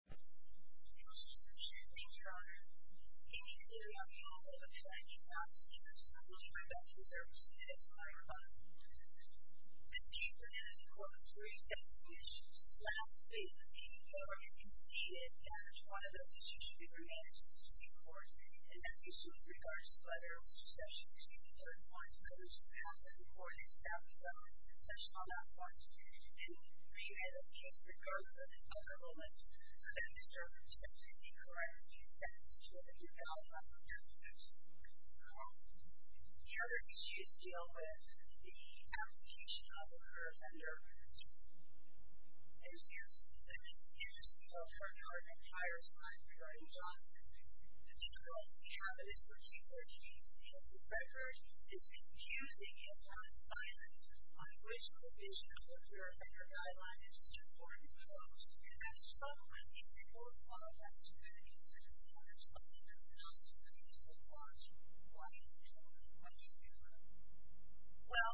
Q. Mr. Chairman, Mr. O'Connor, it is clear that the Oval Office and the Office of the Chief of Staff will serve as your best reserves in this prior month. The Chief of Staff, in accordance with recent decisions, last week, the OEA government conceded that each one of those decisions should be remanded to the Supreme Court, and that this was with regard to the letter of succession received in June 1, when it was passed that the Court accept the Honorable Session on that point, and that the Oval Office and the Office of the Chief of Staff will serve as your best reserves in this prior month. However, the issue is still with the abdication of the current under O.S. Simmons. Here is the Offering of an Entire Time from Johnson. Q. Mr. Chairman, the difficulty I have is with your purchase, and the pressure is infusing it on silence. My original vision of the purifier guideline is just a form of post, and that's troubling. If the Court will allow that to be the case, I'm sorry, but it's not the case at all. Why is it troubling? What do you mean by that? A.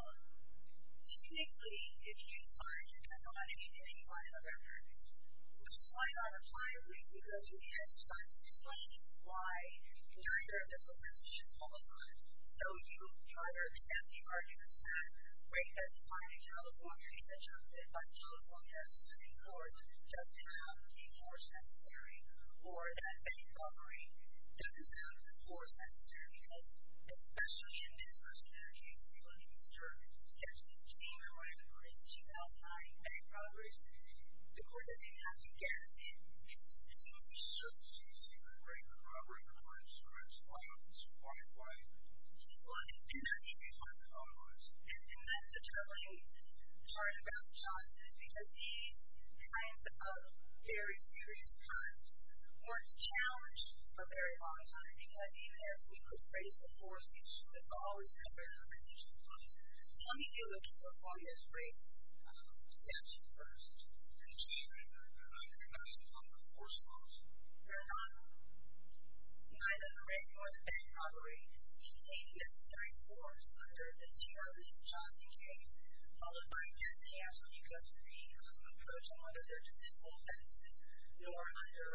Why? You're here and there's a list you should follow through on. So you try to accept the argument that, wait, that's fine in California, but California's Supreme Court doesn't have the force necessary, or that any offering doesn't have the force necessary, because especially in this particular case, we believe it's true. Q. Mr. Chairman, when was 2009? A. Probably, the Court doesn't have to guess. Q. It's supposed to be certain. So you're saying that right now, right? Why is silence, why, why? A. Well, it's infusing it on silence. And that's the troubling part about Johnson, is because he's trying to cover very serious crimes, or it's challenged for a very long time, because even if he could raise the force, he shouldn't always have it in a position of violence. So let me take a look at what form this break steps in first. Q. Mr. Chairman, do you find that there is a form of force involved? A. No, not at all. Neither the right nor the left, probably, contain the necessary forms under the TRU Johnson case, followed by this case, because we approach them under their judicial sentences, nor under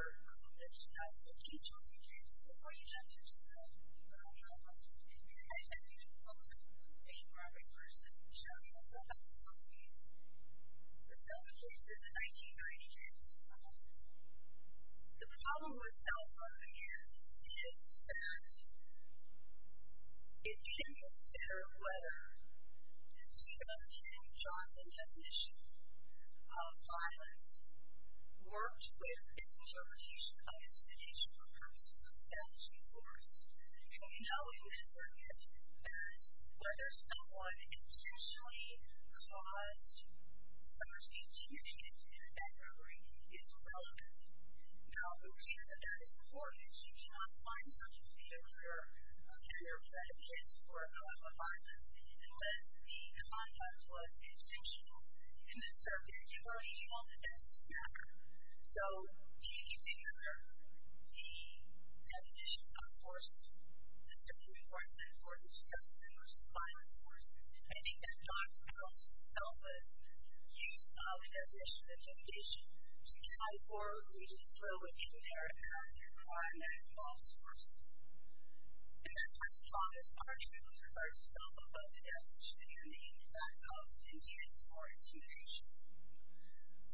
the 2015 Johnson case. Q. Before you jump into that, I'd like to speak to the case. I think you can close it with me, Robert, first, and show me what the hell is going on here. This is not the case. This is the 1990s. The problem with self-violence is that it didn't consider whether it's enough to have Johnson's definition of violence, worked with its assertion of intimidation for purposes of self-defense. And we know in this circuit that whether someone intentionally caused someone's intimidation and back-rubbering is irrelevant. Now, we know that that is important. You cannot find such a behavior, a behavior that can support a crime of violence unless the conduct was instinctual in the circuit in which he wanted to back-rubber. So do you consider the definition of force, the circuit where it's important to justify violence, and do you think that Johnson's violence itself is used as a definition of intimidation to try for or to throw at you in order to counter a crime that involves force? And that's what's fought this argument with regards to self-abuse and intimidation, and the impact of intent towards intimidation.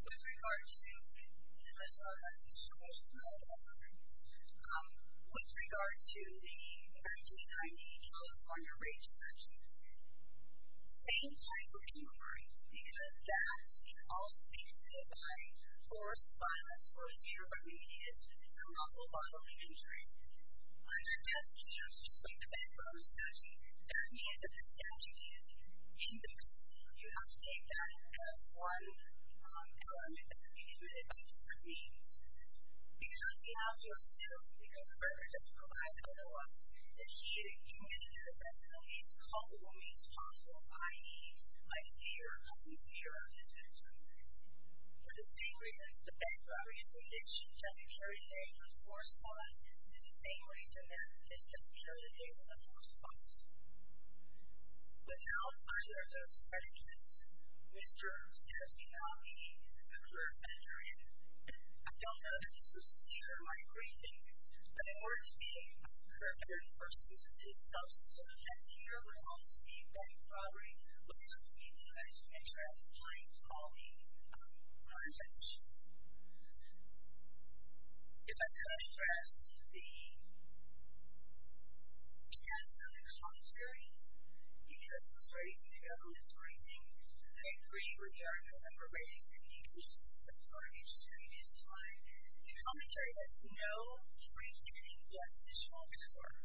With regards to, you know, as far as the situation is concerned, with regards to the 1990 California Rape Statute, same type of inquiry, because that can also be conveyed by force, violence, or a fear of immediate and awful bodily injury. Under this case, just like the Bedroom Statute, that means that the statute is ambiguous. You have to take that as one element that can be committed by each of these. You just have to assume, because Berger doesn't provide the other ones, that she committed the offense in the least culpable means possible, i.e., a fear of this kind of behavior. For the same reasons, the Bedroom Statute, which doesn't carry the name of force, violence, is the same reason that this doesn't carry the name of the force, violence. But now, as far as those predicaments, which terms can be found in the current statute? I don't know if this is clear in my briefing, but in order to be accurate, the 31st instance is substantive. And here, we're supposed to be very far away looking up to the United States as a plain, small-meaning organization. If I can address the... stance of the commentary, it illustrates the evidence-raising, the degree of regard that Berger is giving to some sort of history of his time. The commentary has no choice between death and shock and horror.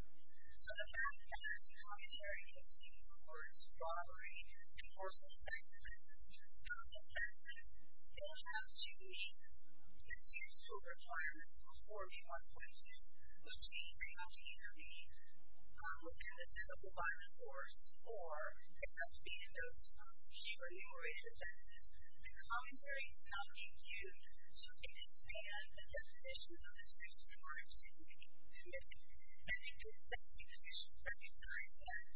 So, the fact that the commentary is speaking towards robbery, divorce, and sex offenses, those offenses still have to be, in terms of requirements, which can pretty much either be a form of physical violence, of course, or it has to be in those The commentary is not being used to expand the definitions of the two subordinates that he's making, committing, and then to extend the infusion for the entire time.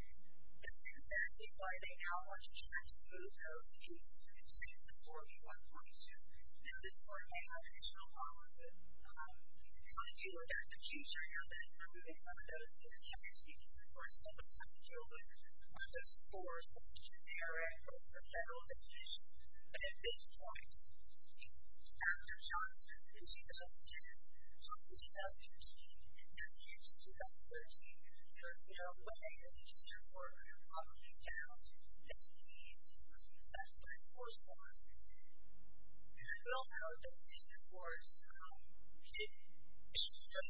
This is then dividing how much he's trying to move those views since the 41.2. Now, this part may have additional policy on how to deal with that in the future. Now, then, for moving some of those to the chapters, you can, of course, look at the scope of the scores that are in both the general definition and at this point. After Johnson in 2010, Johnson in 2013, and Desi in 2013, there is no way that he's, therefore, following down many of these sex-related force laws. There's no code definition, of course. It's just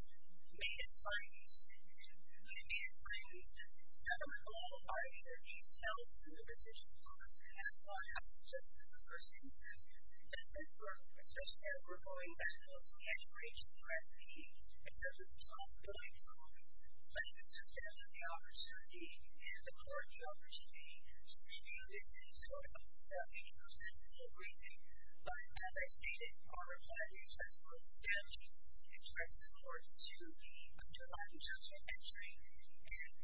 made in spite of these things. And it is my understanding that a lot of the parties that he's telling through the decisions on this have thought that this is just a first instance. In a sense, we're in a position where if we're going back to those graduation threats, he accepts his responsibility for all of it. But he was just given the opportunity and the courage opportunity to review these things so it's not 80% of everything. But as I stated, part of what he says is that he's damaging some of the interests, of course, to undermine the judgment entry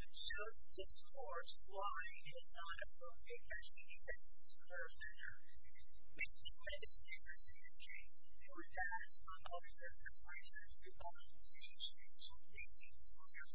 and shows this court why he has not approved a case in the Census Bureau Center. We see what is different in this case and we've had some of those in this crisis. We've all seen the change. We've seen the progress we've made.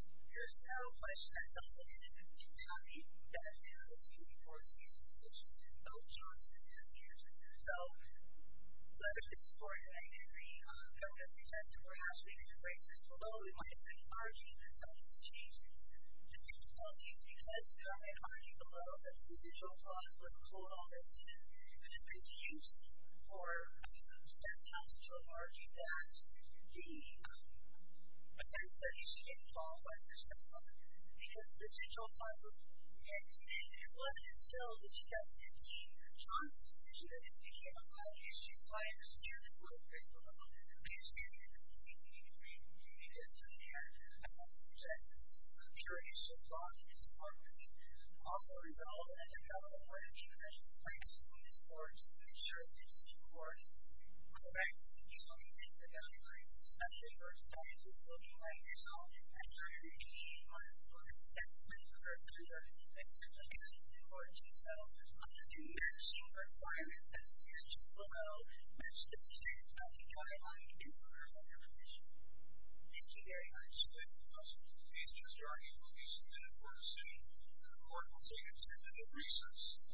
And the fact, as you've all seen, goes to show all the things you showed, no matter what you're directing, in whatever way you're directing, whether you're directing to certain institutions other than identification of your individual tribal members and that's just not the right way. And my reaction to the part also is that I just don't see that he's transmitted the most discriminatory issue at all. It's an issue with integration. It's an integration from one person to another person and part of where we're all going to be certainly quickly going to come up in a million and a half years is to get out there and talk to a tribal member and to face the news and come up with a different course from an individual that's a tribal member that's been involved in a number of matters be it a tribal event or airfares as an incident and issues are being reveried, at least from the university and forceful grief under the California State Committee and forceful grief on both of those issues as well. And it's a bit of a paradox that so much of the research that's been done with each other is completely irrelevant to the community. I also want to tell you just a little bit before we go to current law enforcement should the main research base be screened because in California we have to be screened for something and there are a number of different substitutions of the races in California one of which criminalizes rapes and sexually inappropriate forms of crime able to be assessed as sufficient in age such as birth age or sex such as that or conviction and violating. Criminalizes sexually inappropriate forms of crime or substitutions as well by means of force violence or fear of immediate and unlawful bodily injury. And I'm not going to go into details because it's a categorical matter and elements of law so frankly we can't interfere into that. Interesting question about the numerated evidence and the numerated evidence that you're going to talk to but here what we have is by its elemental definition requires either a use or a pressure use just as far as the use of force violence as a matter of fact it's actually a very important issue where you have access to this sort of system where you also have the discharge of law so this particular question about the numerated evidence and the numerated or a pressure use just as far as the use of force violence as a matter of fact it's actually a very important issue where you have access to this sort of system where you also have the of force violence as a matter of fact it's actually a very important issue where you also have access to this